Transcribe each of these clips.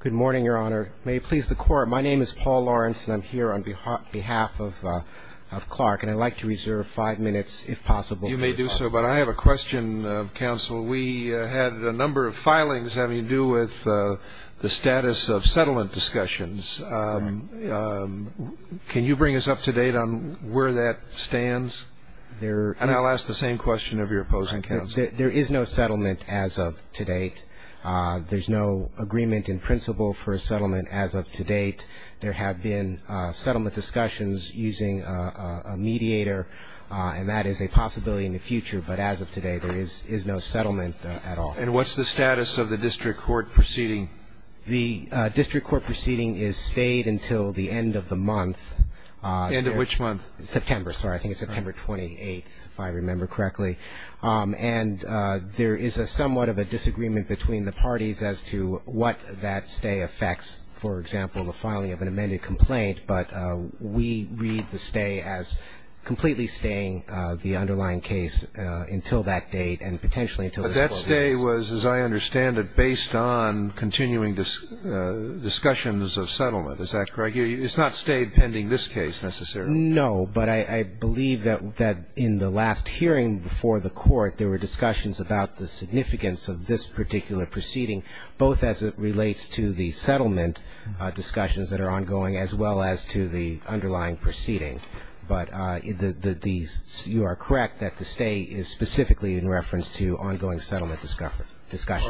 Good morning, Your Honor. May it please the Court, my name is Paul Lawrence, and I'm here on behalf of Clark, and I'd like to reserve five minutes, if possible. You may do so, but I have a question, Counsel. We had a number of filings having to do with the status of settlement discussions. Can you bring us up to date on where that stands? And I'll ask the same question of your opposing counsel. There is no settlement as of to date. There's no agreement in principle for a settlement as of to date. There have been settlement discussions using a mediator, and that is a possibility in the future. But as of today, there is no settlement at all. And what's the status of the district court proceeding? The district court proceeding is stayed until the end of the month. The end of which month? September. Sorry. I think it's September 28th, if I remember correctly. And there is a somewhat of a disagreement between the parties as to what that stay affects. For example, the filing of an amended complaint. But we read the stay as completely staying the underlying case until that date and potentially until the 12 years. But that stay was, as I understand it, based on continuing discussions of settlement. Is that correct? It's not stayed pending this case, necessarily. No, but I believe that in the last hearing before the court, there were discussions about the significance of this particular proceeding, both as it relates to the settlement discussions that are ongoing as well as to the underlying proceeding. But you are correct that the stay is specifically in reference to ongoing settlement discussions.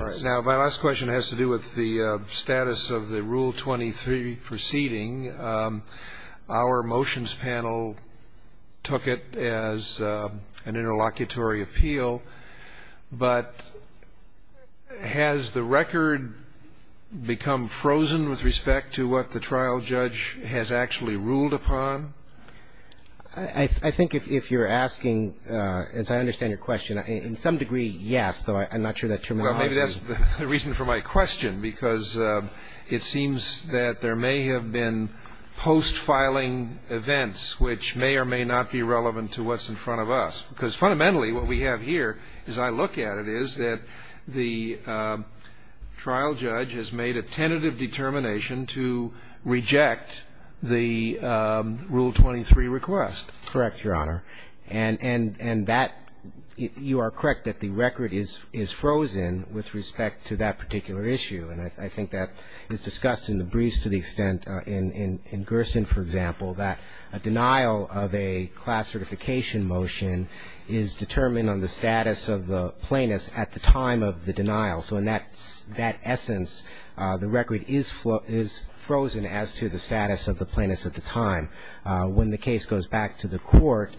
All right. Now, my last question has to do with the status of the Rule 23 proceeding. Our motions panel took it as an interlocutory appeal. But has the record become frozen with respect to what the trial judge has actually ruled upon? I think if you're asking, as I understand your question, in some degree, yes, though I'm not sure that terminology ---- Well, maybe that's the reason for my question, because it seems that there may have been post-filing events which may or may not be relevant to what's in front of us, because fundamentally what we have here, as I look at it, is that the trial judge has made a tentative determination to reject the Rule 23 request. Correct, Your Honor. And that you are correct that the record is frozen with respect to that particular issue. And I think that is discussed in the briefs to the extent in Gerson, for example, that a denial of a class certification motion is determined on the status of the plaintiffs at the time of the denial. So in that essence, the record is frozen as to the status of the plaintiffs at the time. However, when the case goes back to the Court,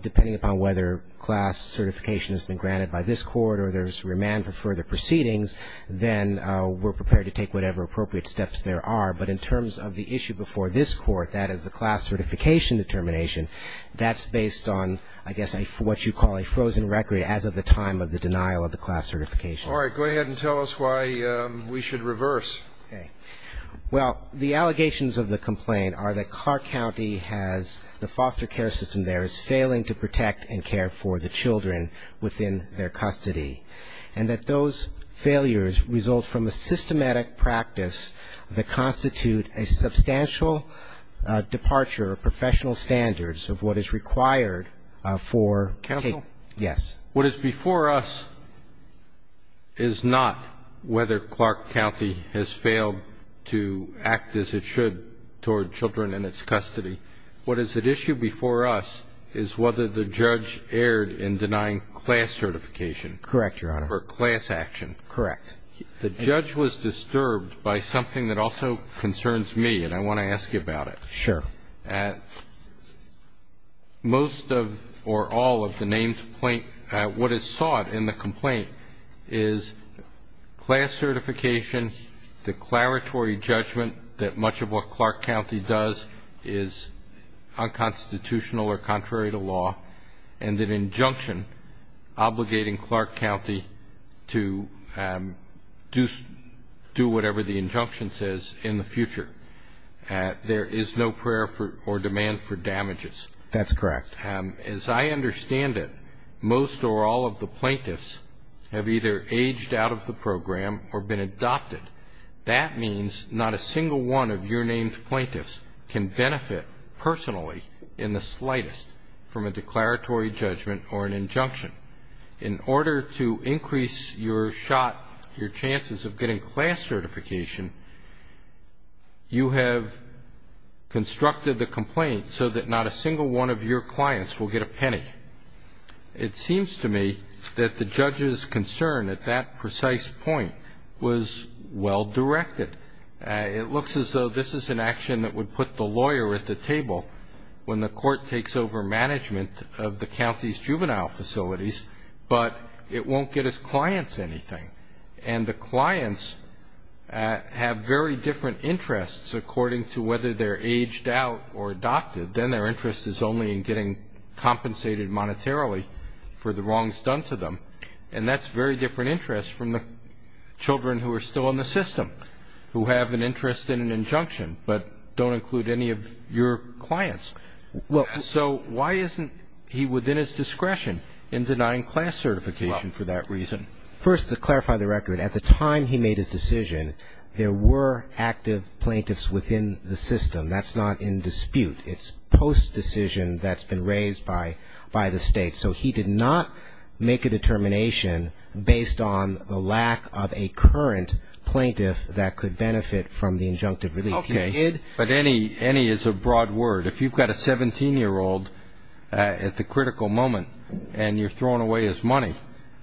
depending upon whether class certification has been granted by this Court or there's remand for further proceedings, then we're prepared to take whatever appropriate steps there are. But in terms of the issue before this Court, that is the class certification determination, that's based on, I guess, what you call a frozen record as of the time of the denial of the class certification. All right. Go ahead and tell us why we should reverse. Okay. Well, the allegations of the complaint are that Clark County has the foster care system there is failing to protect and care for the children within their custody, and that those failures result from a systematic practice that constitutes a substantial departure of professional standards of what is required for cases. Counsel? What is before us is not whether Clark County has failed to act as it should toward children in its custody. What is at issue before us is whether the judge erred in denying class certification. Correct, Your Honor. For class action. Correct. The judge was disturbed by something that also concerns me, and I want to ask you about Sure. Most of or all of the names, what is sought in the complaint is class certification, declaratory judgment that much of what Clark County does is unconstitutional or contrary to law, and an injunction obligating Clark County to do whatever the injunction says in the future. There is no prayer or demand for damages. That's correct. As I understand it, most or all of the plaintiffs have either aged out of the program or been adopted. That means not a single one of your named plaintiffs can benefit personally in the slightest from a declaratory judgment or an injunction. In order to increase your shot, your chances of getting class certification, you have constructed the complaint so that not a single one of your clients will get a penny. It seems to me that the judge's concern at that precise point was well-directed. It looks as though this is an action that would put the lawyer at the table when the court takes over the management of the county's juvenile facilities, but it won't get its clients anything. And the clients have very different interests according to whether they're aged out or adopted. Then their interest is only in getting compensated monetarily for the wrongs done to them. And that's very different interest from the children who are still in the system, who have an interest in an injunction but don't include any of your clients. So why isn't he within his discretion in denying class certification for that reason? First, to clarify the record, at the time he made his decision, there were active plaintiffs within the system. That's not in dispute. It's post-decision that's been raised by the State. So he did not make a determination based on the lack of a current plaintiff that could benefit from the injunctive relief. But any is a broad word. If you've got a 17-year-old at the critical moment and you're throwing away his money,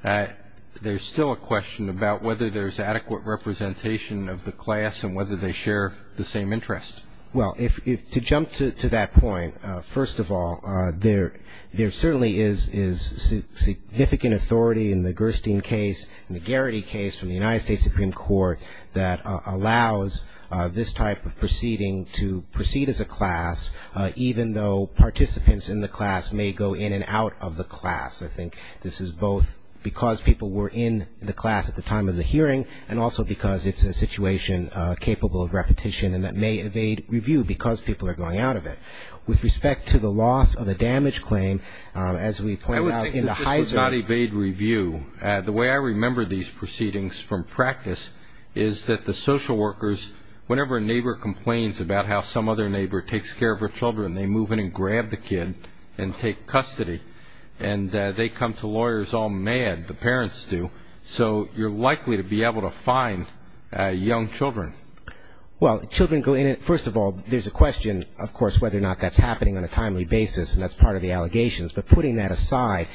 there's still a question about whether there's adequate representation of the class and whether they share the same interest. Well, to jump to that point, first of all, there certainly is significant authority in the Gerstein case and the Garrity case from the United States Supreme Court that allows this type of proceeding to proceed as a class, even though participants in the class may go in and out of the class. I think this is both because people were in the class at the time of the hearing and also because it's a situation capable of repetition and that may evade review because people are going out of it. With respect to the loss of a damage claim, as we pointed out in the Heiser. I would think that this was not evade review. The way I remember these proceedings from practice is that the social workers, whenever a neighbor complains about how some other neighbor takes care of her children, they move in and grab the kid and take custody. And they come to lawyers all mad, the parents do. So you're likely to be able to find young children. Well, children go in and, first of all, there's a question, of course, whether or not that's happening on a timely basis, and that's part of the allegations. But putting that aside,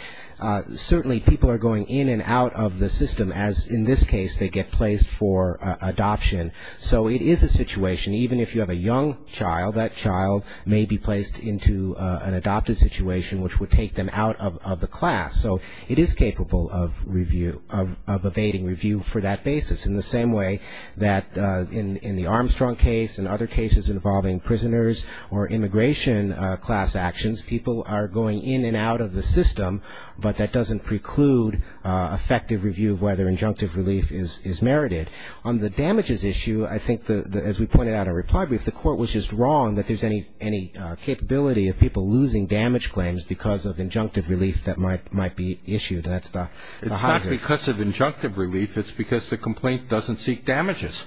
certainly people are going in and out of the system, as in this case they get placed for adoption. So it is a situation, even if you have a young child, that child may be placed into an adopted situation which would take them out of the class. So it is capable of evading review for that basis. In the same way that in the Armstrong case and other cases involving prisoners or immigration class actions, people are going in and out of the system, but that doesn't preclude effective review of whether injunctive relief is merited. On the damages issue, I think, as we pointed out in reply brief, the court was just wrong that there's any capability of people losing damage claims because of injunctive relief that might be issued. That's the hazard. It's not because of injunctive relief. It's because the complaint doesn't seek damages.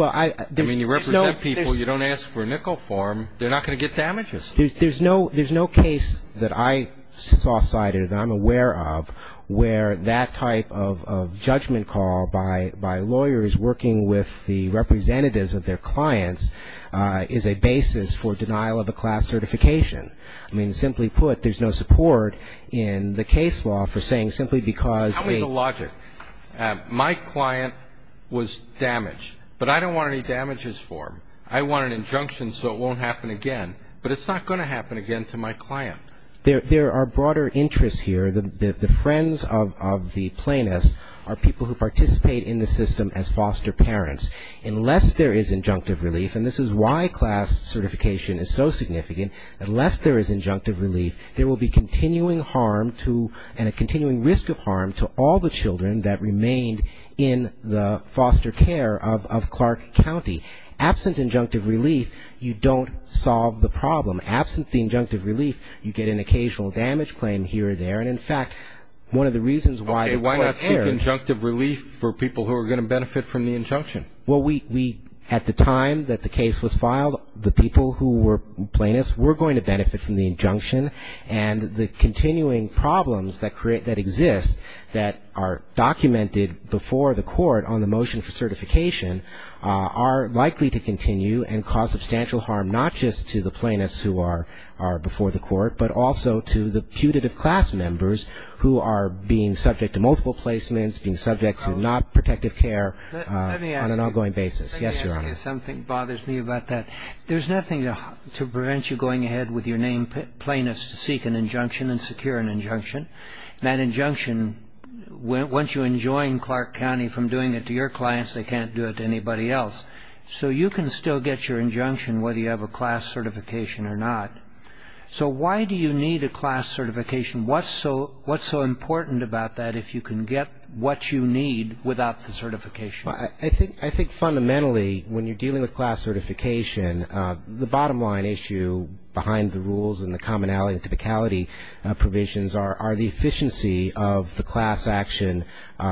I mean, you represent people. You don't ask for a nickel form. They're not going to get damages. There's no case that I saw cited, that I'm aware of, where that type of judgment call by lawyers working with the representatives of their clients is a basis for denial of a class certification. I mean, simply put, there's no support in the case law for saying simply because they ---- Tell me the logic. My client was damaged, but I don't want any damages for him. I want an injunction so it won't happen again. But it's not going to happen again to my client. There are broader interests here. The friends of the plaintiffs are people who participate in the system as foster parents. Unless there is injunctive relief, and this is why class certification is so significant, unless there is injunctive relief, there will be continuing harm to and a continuing risk of harm to all the children that remained in the foster care of Clark County. Absent injunctive relief, you don't solve the problem. Absent the injunctive relief, you get an occasional damage claim here or there. And, in fact, one of the reasons why the court ---- Okay. Why not seek injunctive relief for people who are going to benefit from the injunction? Well, we, at the time that the case was filed, the people who were plaintiffs were going to benefit from the injunction. And the continuing problems that exist that are documented before the court on the motion for certification are likely to continue and cause substantial harm not just to the plaintiffs who are before the court, but also to the putative class members who are being subject to multiple placements, being subject to not protective care on an ongoing basis. Yes, Your Honor. Let me ask you something that bothers me about that. There's nothing to prevent you going ahead with your name plaintiffs to seek an injunction and secure an injunction. That injunction, once you enjoin Clark County from doing it to your clients, they can't do it to anybody else. So you can still get your injunction whether you have a class certification or not. So why do you need a class certification? What's so important about that if you can get what you need without the certification? I think fundamentally when you're dealing with class certification, the bottom line issue behind the rules and the commonality and typicality provisions are the efficiency of the class action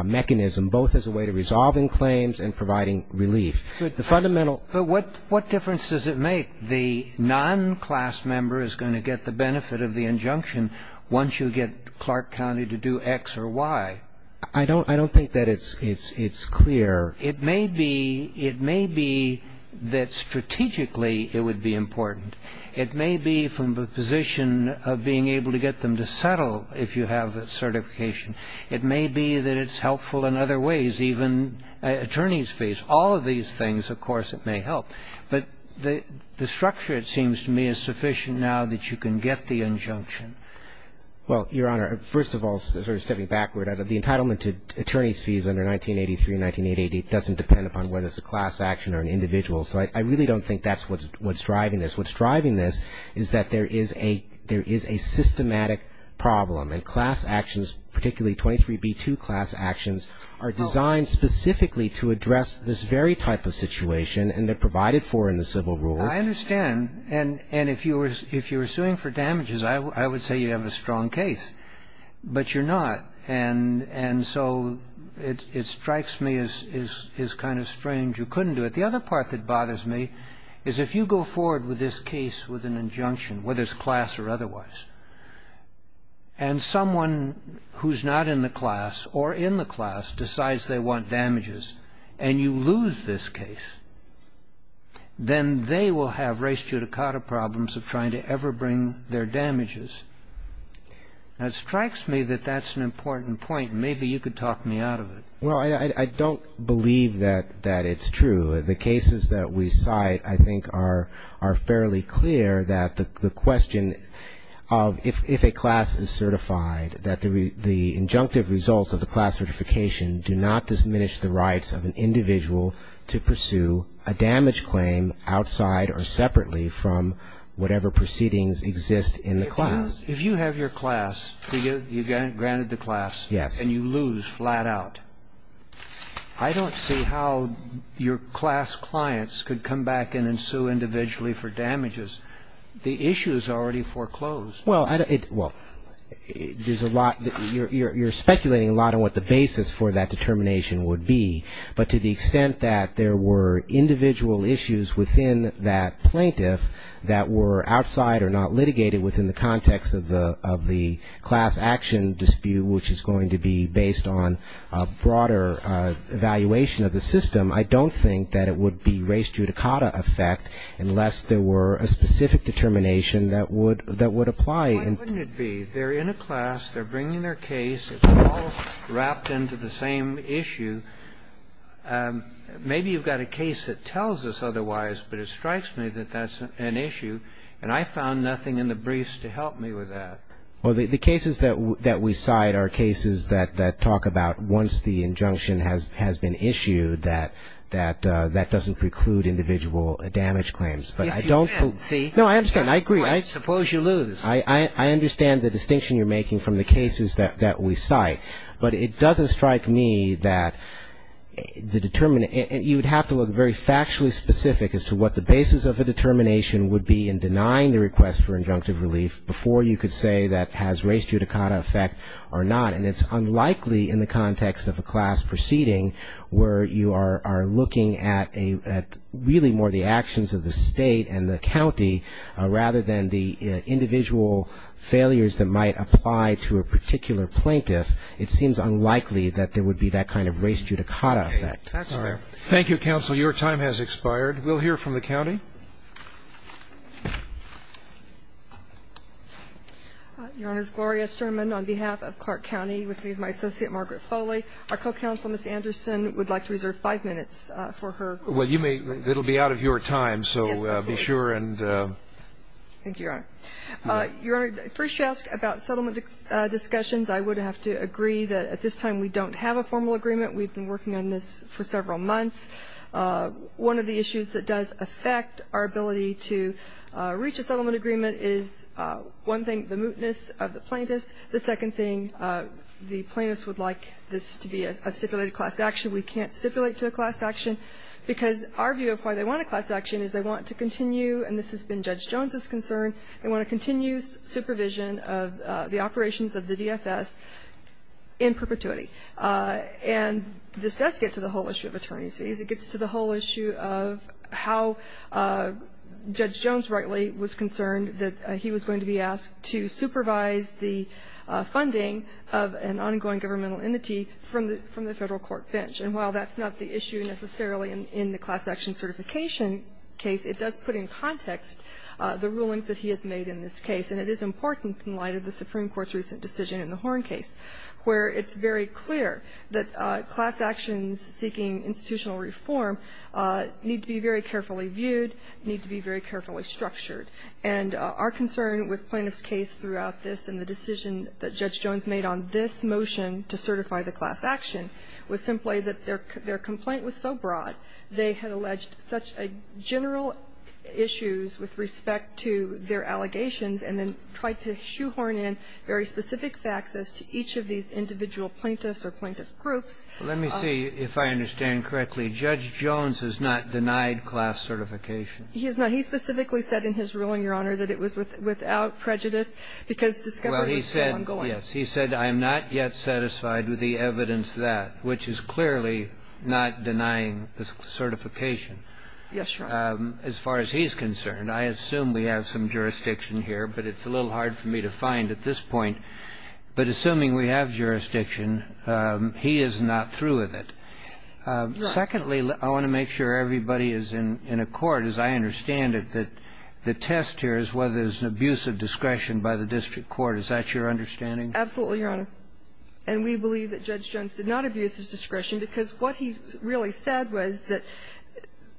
mechanism, both as a way to resolving claims and providing relief. The fundamental ---- But what difference does it make? The non-class member is going to get the benefit of the injunction once you get Clark County to do X or Y. I don't think that it's clear. It may be that strategically it would be important. It may be from the position of being able to get them to settle if you have a certification. It may be that it's helpful in other ways, even attorneys' fees. All of these things, of course, it may help. But the structure, it seems to me, is sufficient now that you can get the injunction. Well, Your Honor, first of all, sort of stepping backward, the entitlement to attorney's fees under 1983 and 1988, it doesn't depend upon whether it's a class action or an individual. So I really don't think that's what's driving this. What's driving this is that there is a systematic problem, and class actions, particularly 23b2 class actions, are designed specifically to address this very type of situation, and they're provided for in the civil rules. I understand, and if you were suing for damages, I would say you have a strong case. But you're not, and so it strikes me as kind of strange you couldn't do it. The other part that bothers me is if you go forward with this case with an injunction, whether it's class or otherwise, and someone who's not in the class or in the class decides they want damages, and you lose this case, then they will have res judicata problems of trying to ever bring their damages. Now, it strikes me that that's an important point. Maybe you could talk me out of it. Well, I don't believe that it's true. The cases that we cite, I think, are fairly clear that the question of if a class is certified, that the injunctive results of the class certification do not diminish the rights of an individual to pursue a damage claim outside or separately from whatever proceedings exist in the class. If you have your class, you're granted the class. Yes. And you lose flat out. I don't see how your class clients could come back in and sue individually for damages. The issue is already foreclosed. Well, you're speculating a lot on what the basis for that determination would be. But to the extent that there were individual issues within that plaintiff that were outside or not litigated within the context of the class action dispute, which is going to be based on a broader evaluation of the system, I don't think that it would be res judicata effect unless there were a specific determination that would apply. Why wouldn't it be? They're in a class. They're bringing their case. It's all wrapped into the same issue. Maybe you've got a case that tells us otherwise, but it strikes me that that's an issue. And I found nothing in the briefs to help me with that. Well, the cases that we cite are cases that talk about once the injunction has been issued, that that doesn't preclude individual damage claims. But I don't believe that. Yes, you can, see. No, I understand. And I agree. Suppose you lose. I understand the distinction you're making from the cases that we cite. But it doesn't strike me that you would have to look very factually specific as to what the basis of a determination would be in denying the request for injunctive relief before you could say that has res judicata effect or not. And it's unlikely in the context of a class proceeding where you are looking at really more the actions of the state and the county rather than the individual failures that might apply to a particular plaintiff, it seems unlikely that there would be that kind of res judicata effect. Thank you, counsel. Your time has expired. We'll hear from the county. Your Honor, Gloria Sturman on behalf of Clark County with my associate Margaret Foley. Our co-counsel, Ms. Anderson, would like to reserve five minutes for her. Well, you may, it will be out of your time, so be sure and. Thank you, Your Honor. Your Honor, first to ask about settlement discussions, I would have to agree that at this time we don't have a formal agreement. We've been working on this for several months. One of the issues that does affect our ability to reach a settlement agreement is one thing, the mootness of the plaintiffs. The second thing, the plaintiffs would like this to be a stipulated class action. We can't stipulate to a class action because our view of why they want a class action is they want to continue, and this has been Judge Jones' concern, they want to continue supervision of the operations of the DFS in perpetuity. And this does get to the whole issue of attorneys fees. It gets to the whole issue of how Judge Jones rightly was concerned that he was going to be asked to supervise the funding of an ongoing governmental entity from the Federal Court bench. And while that's not the issue necessarily in the class action certification case, it does put in context the rulings that he has made in this case. And it is important in light of the Supreme Court's recent decision in the Horn case where it's very clear that class actions seeking institutional reform need to be very carefully viewed, need to be very carefully structured. And our concern with plaintiff's case throughout this and the decision that Judge Jones made is that their complaint was so broad, they had alleged such general issues with respect to their allegations and then tried to shoehorn in very specific facts as to each of these individual plaintiffs or plaintiff groups. Let me see if I understand correctly. Judge Jones has not denied class certification. He has not. He specifically said in his ruling, Your Honor, that it was without prejudice because discovery was so ongoing. Yes. He said, I am not yet satisfied with the evidence that, which is clearly not denying the certification. Yes, Your Honor. As far as he's concerned, I assume we have some jurisdiction here, but it's a little hard for me to find at this point. But assuming we have jurisdiction, he is not through with it. Secondly, I want to make sure everybody is in accord, as I understand it, that the test here is whether there's an abuse of discretion by the district court. Is that your understanding? Absolutely, Your Honor. And we believe that Judge Jones did not abuse his discretion, because what he really said was that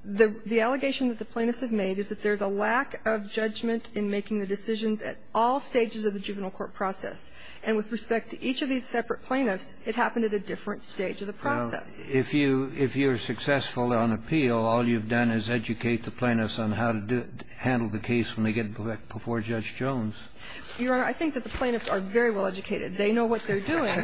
the allegation that the plaintiffs have made is that there's a lack of judgment in making the decisions at all stages of the juvenile court process. And with respect to each of these separate plaintiffs, it happened at a different stage of the process. Well, if you're successful on appeal, all you've done is educate the plaintiffs on how to handle the case when they get before Judge Jones. Your Honor, I think that the plaintiffs are very well educated. They know what they're doing.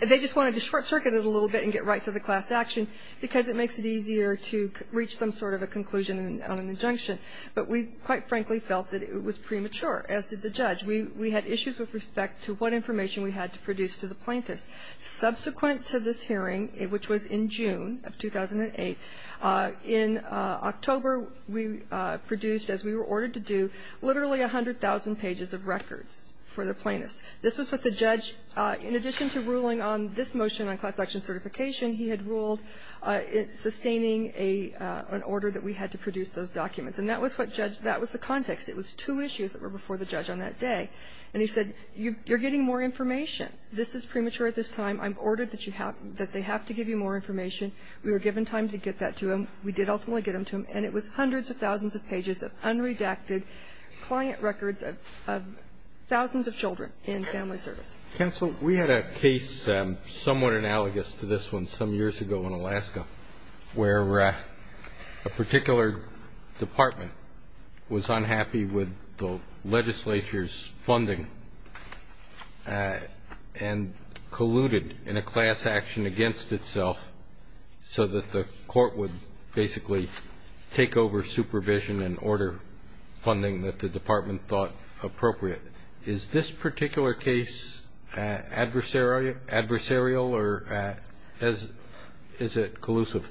They just wanted to short-circuit it a little bit and get right to the class action because it makes it easier to reach some sort of a conclusion on an injunction. But we, quite frankly, felt that it was premature, as did the judge. We had issues with respect to what information we had to produce to the plaintiffs. Subsequent to this hearing, which was in June of 2008, in October we produced, as we were ordered to do, literally 100,000 pages of records for the plaintiffs. This was what the judge, in addition to ruling on this motion on class action certification, he had ruled sustaining an order that we had to produce those documents. And that was what judge that was the context. It was two issues that were before the judge on that day. And he said, you're getting more information. This is premature at this time. I'm ordered that you have to give you more information. We were given time to get that to him. We did ultimately get it to him. And it was hundreds of thousands of pages of unredacted client records of thousands of children in family service. Kennedy. We had a case somewhat analogous to this one some years ago in Alaska, where a particular department was unhappy with the legislature's funding and colluded in a class action against itself so that the court would basically take over supervision and order funding that the department thought appropriate. Is this particular case adversarial or is it collusive?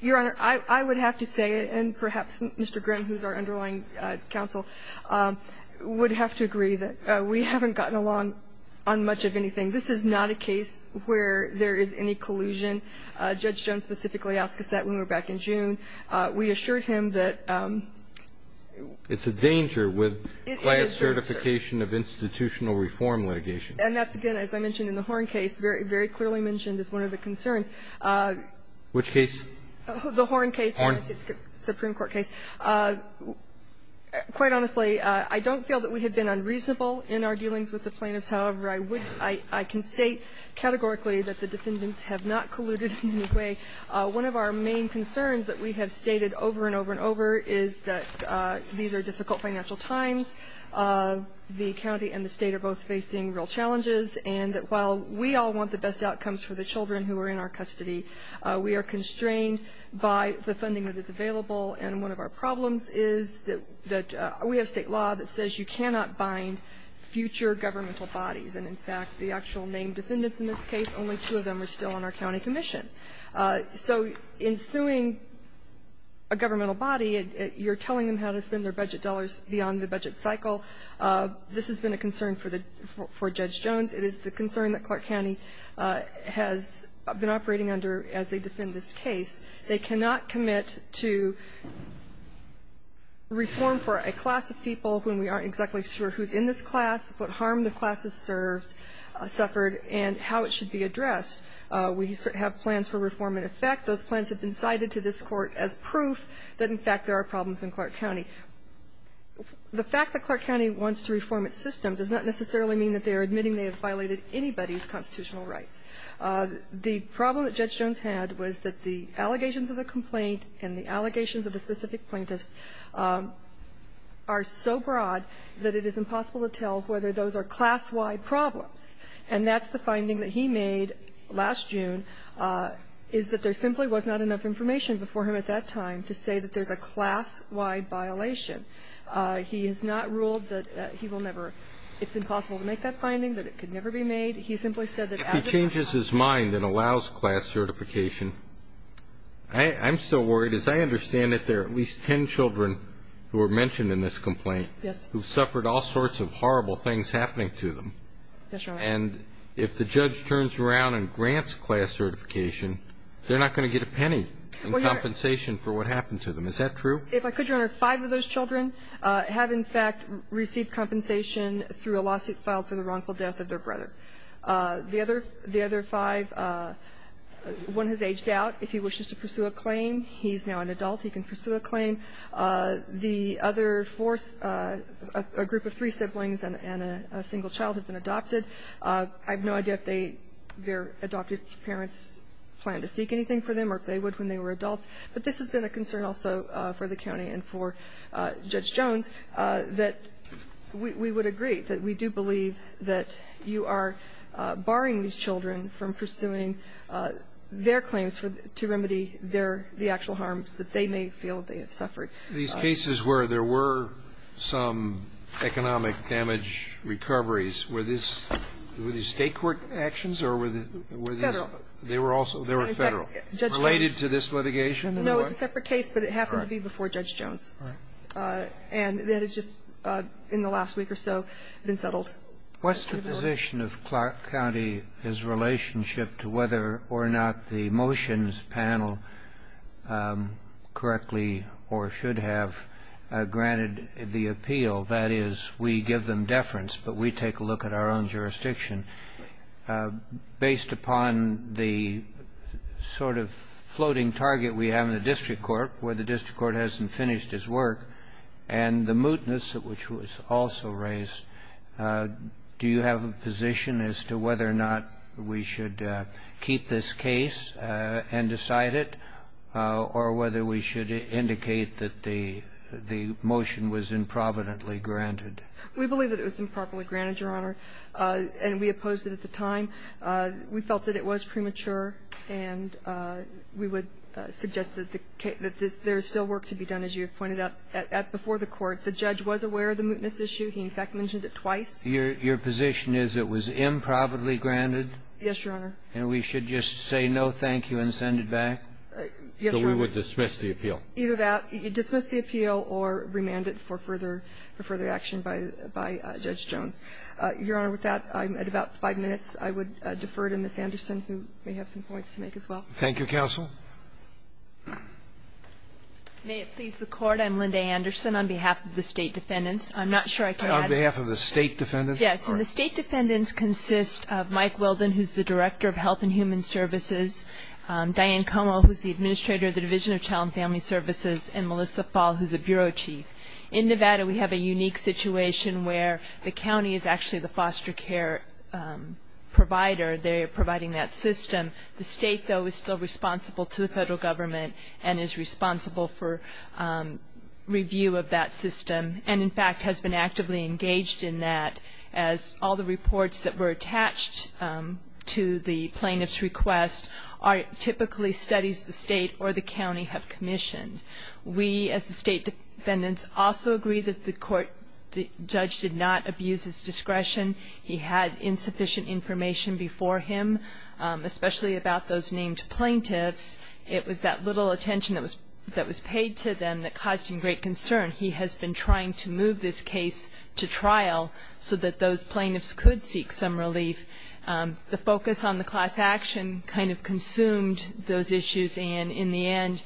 Your Honor, I would have to say, and perhaps Mr. Grimm, who is our underlying counsel, would have to agree that we haven't gotten along on much of anything. This is not a case where there is any collusion. Judge Jones specifically asked us that when we were back in June. We assured him that we needed to get more information. It's a danger with class certification of institutional reform litigation. And that's, again, as I mentioned in the Horn case, very clearly mentioned as one of the concerns. Which case? The Horn case. Horn. The Supreme Court case. Quite honestly, I don't feel that we have been unreasonable in our dealings with the plaintiffs. However, I can state categorically that the defendants have not colluded in any way. One of our main concerns that we have stated over and over and over is that these are difficult financial times. The county and the state are both facing real challenges. And while we all want the best outcomes for the children who are in our custody, we are constrained by the funding that is available. And one of our problems is that we have state law that says you cannot bind future governmental bodies. And in fact, the actual main defendants in this case, only two of them are still on our county commission. So in suing a governmental body, you're telling them how to spend their budget dollars beyond the budget cycle. This has been a concern for the Judge Jones. It is the concern that Clark County has been operating under as they defend this case. They cannot commit to reform for a class of people when we aren't exactly sure who's in this class, what harm the class has served, suffered, and how it should be addressed. We have plans for reform in effect. Those plans have been cited to this Court as proof that, in fact, there are problems in Clark County. The fact that Clark County wants to reform its system does not necessarily mean that they are admitting they have violated anybody's constitutional rights. The problem that Judge Jones had was that the allegations of the complaint and the allegations of the specific plaintiffs are so broad that it is impossible to tell whether those are class-wide problems. And that's the finding that he made last June, is that there simply was not enough information before him at that time to say that there's a class-wide violation. He has not ruled that he will never – it's impossible to make that finding, that it could never be made. He simply said that as a – If he changes his mind and allows class certification, I'm still worried, as I understand it, there are at least ten children who were mentioned in this complaint. Yes. Who suffered all sorts of horrible things happening to them. Yes, Your Honor. And if the judge turns around and grants class certification, they're not going to get a penny in compensation for what happened to them. Is that true? If I could, Your Honor, five of those children have, in fact, received compensation through a lawsuit filed for the wrongful death of their brother. The other – the other five – one has aged out. If he wishes to pursue a claim, he's now an adult. He can pursue a claim. The other four – a group of three siblings and a single child have been adopted. I have no idea if their adoptive parents plan to seek anything for them or if they would when they were adults, but this has been a concern also for the county and for Judge Jones, that we would agree, that we do believe that you are barring these children from pursuing their claims to remedy their – the actual harms that they may feel they have suffered. These cases where there were some economic damage recoveries, were these – were these state court actions or were these – Federal. They were also – they were federal. Related to this litigation? No, it was a separate case, but it happened to be before Judge Jones. All right. And that has just, in the last week or so, been settled. What's the position of Clark County, his relationship to whether or not the motions panel correctly or should have granted the appeal? That is, we give them deference, but we take a look at our own jurisdiction. Based upon the sort of floating target we have in the district court, where the district court hasn't finished its work, and the mootness which was also raised, do you have a position as to whether or not we should keep this case and decide it, or whether we should indicate that the motion was improvidently granted? We believe that it was improperly granted, Your Honor, and we opposed it at the time. We felt that it was premature, and we would suggest that there is still work to be done, as you have pointed out. Before the court, the judge was aware of the mootness issue. He, in fact, mentioned it twice. Your position is it was improvidently granted? Yes, Your Honor. And we should just say no, thank you, and send it back? Yes, Your Honor. So we would dismiss the appeal? Either that. You dismiss the appeal or remand it for further action by Judge Jones. Your Honor, with that, I'm at about 5 minutes. I would defer to Ms. Anderson, who may have some points to make as well. Thank you, counsel. May it please the Court. I'm Linda Anderson on behalf of the State Defendants. I'm not sure I can add. On behalf of the State Defendants? Yes. And the State Defendants consist of Mike Weldon, who's the Director of Health and Human Services, Diane Como, who's the Administrator of the Division of Child and Family Services, and Melissa Fall, who's the Bureau Chief. In Nevada, we have a unique situation where the county is actually the foster care provider. They're providing that system. The state, though, is still responsible to the federal government and is responsible for review of that system. And, in fact, has been actively engaged in that, as all the reports that were attached to the plaintiff's request are typically studies the state or the county have commissioned. We, as the State Defendants, also agree that the court, the judge did not abuse his discretion. He had insufficient information before him, especially about those named plaintiffs. It was that little attention that was paid to them that caused him great concern. He has been trying to move this case to trial so that those plaintiffs could seek some relief. The focus on the class action kind of consumed those issues. And, in the end,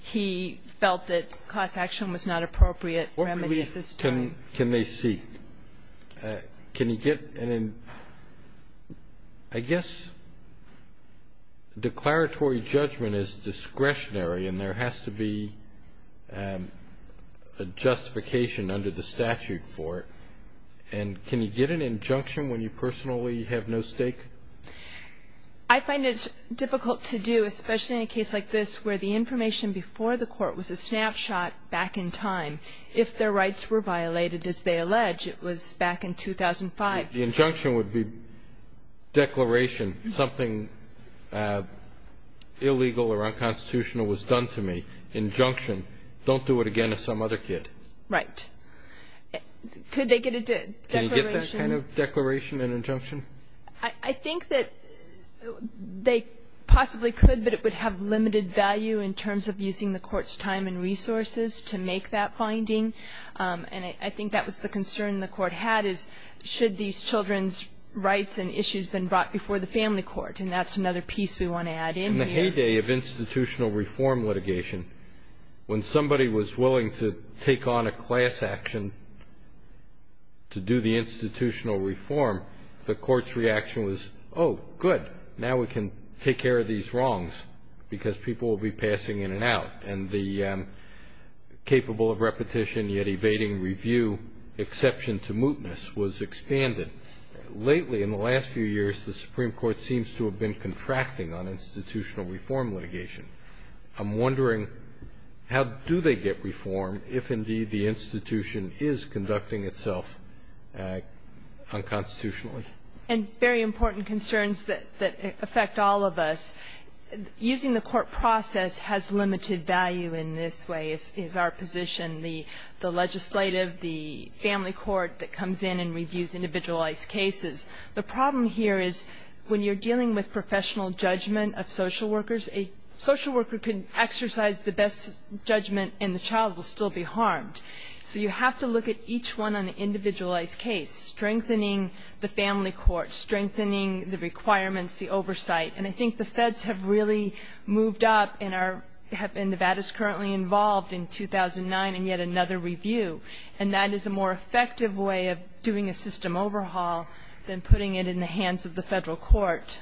he felt that class action was not appropriate remedy at this time. What relief can they seek? Can you get an end? I guess declaratory judgment is discretionary. And there has to be a justification under the statute for it. And can you get an injunction when you personally have no stake? I find it difficult to do, especially in a case like this, where the information before the court was a snapshot back in time. If their rights were violated, as they allege, it was back in 2005. The injunction would be declaration something illegal or unconstitutional was done to me, injunction, don't do it again to some other kid. Right. Could they get a declaration? Can you get that kind of declaration and injunction? I think that they possibly could, but it would have limited value in terms of using the Court's time and resources to make that finding. And I think that was the concern the Court had, is should these children's rights and issues been brought before the family court? And that's another piece we want to add in here. In the heyday of institutional reform litigation, when somebody was willing to take on a class action to do the institutional reform, the Court's reaction was, oh, good. Now we can take care of these wrongs because people will be passing in and out. And the capable of repetition yet evading review exception to mootness was expanded. Lately, in the last few years, the Supreme Court seems to have been contracting on institutional reform litigation. I'm wondering, how do they get reform if, indeed, the institution is conducting itself unconstitutionally? And very important concerns that affect all of us. Using the court process has limited value in this way, is our position. The legislative, the family court that comes in and reviews individualized cases, the problem here is when you're dealing with professional judgment of social workers, a social worker can exercise the best judgment and the child will still be harmed. So you have to look at each one on an individualized case, strengthening the family court, strengthening the requirements, the oversight. And I think the feds have really moved up and Nevada's currently involved in 2009 and yet another review. And that is a more effective way of doing a system overhaul than putting it in the hands of the federal court.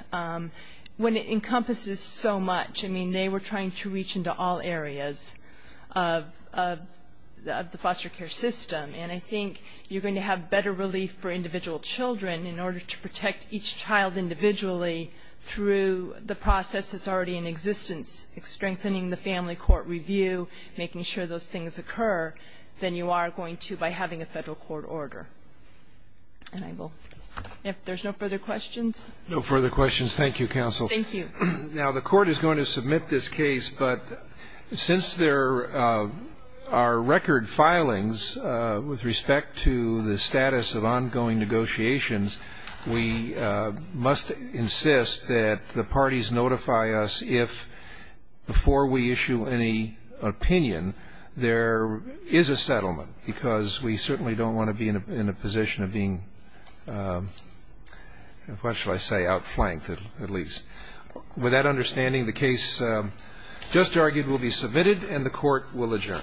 When it encompasses so much, I mean, they were trying to reach into all areas of the foster care system. And I think you're going to have better relief for individual children in order to protect each child individually through the process that's already in existence, strengthening the family court review, making sure those things occur, then you are going to, by having a federal court order. And I will, if there's no further questions? No further questions. Thank you, counsel. Thank you. Now, the court is going to submit this case, but since there are record filings with respect to the status of ongoing negotiations, we must insist that the parties notify us if before we issue any opinion, there is a settlement because we certainly don't want to be in a position of being, what shall I say, outflanked, at least. With that understanding, the case just argued will be submitted and the court will adjourn.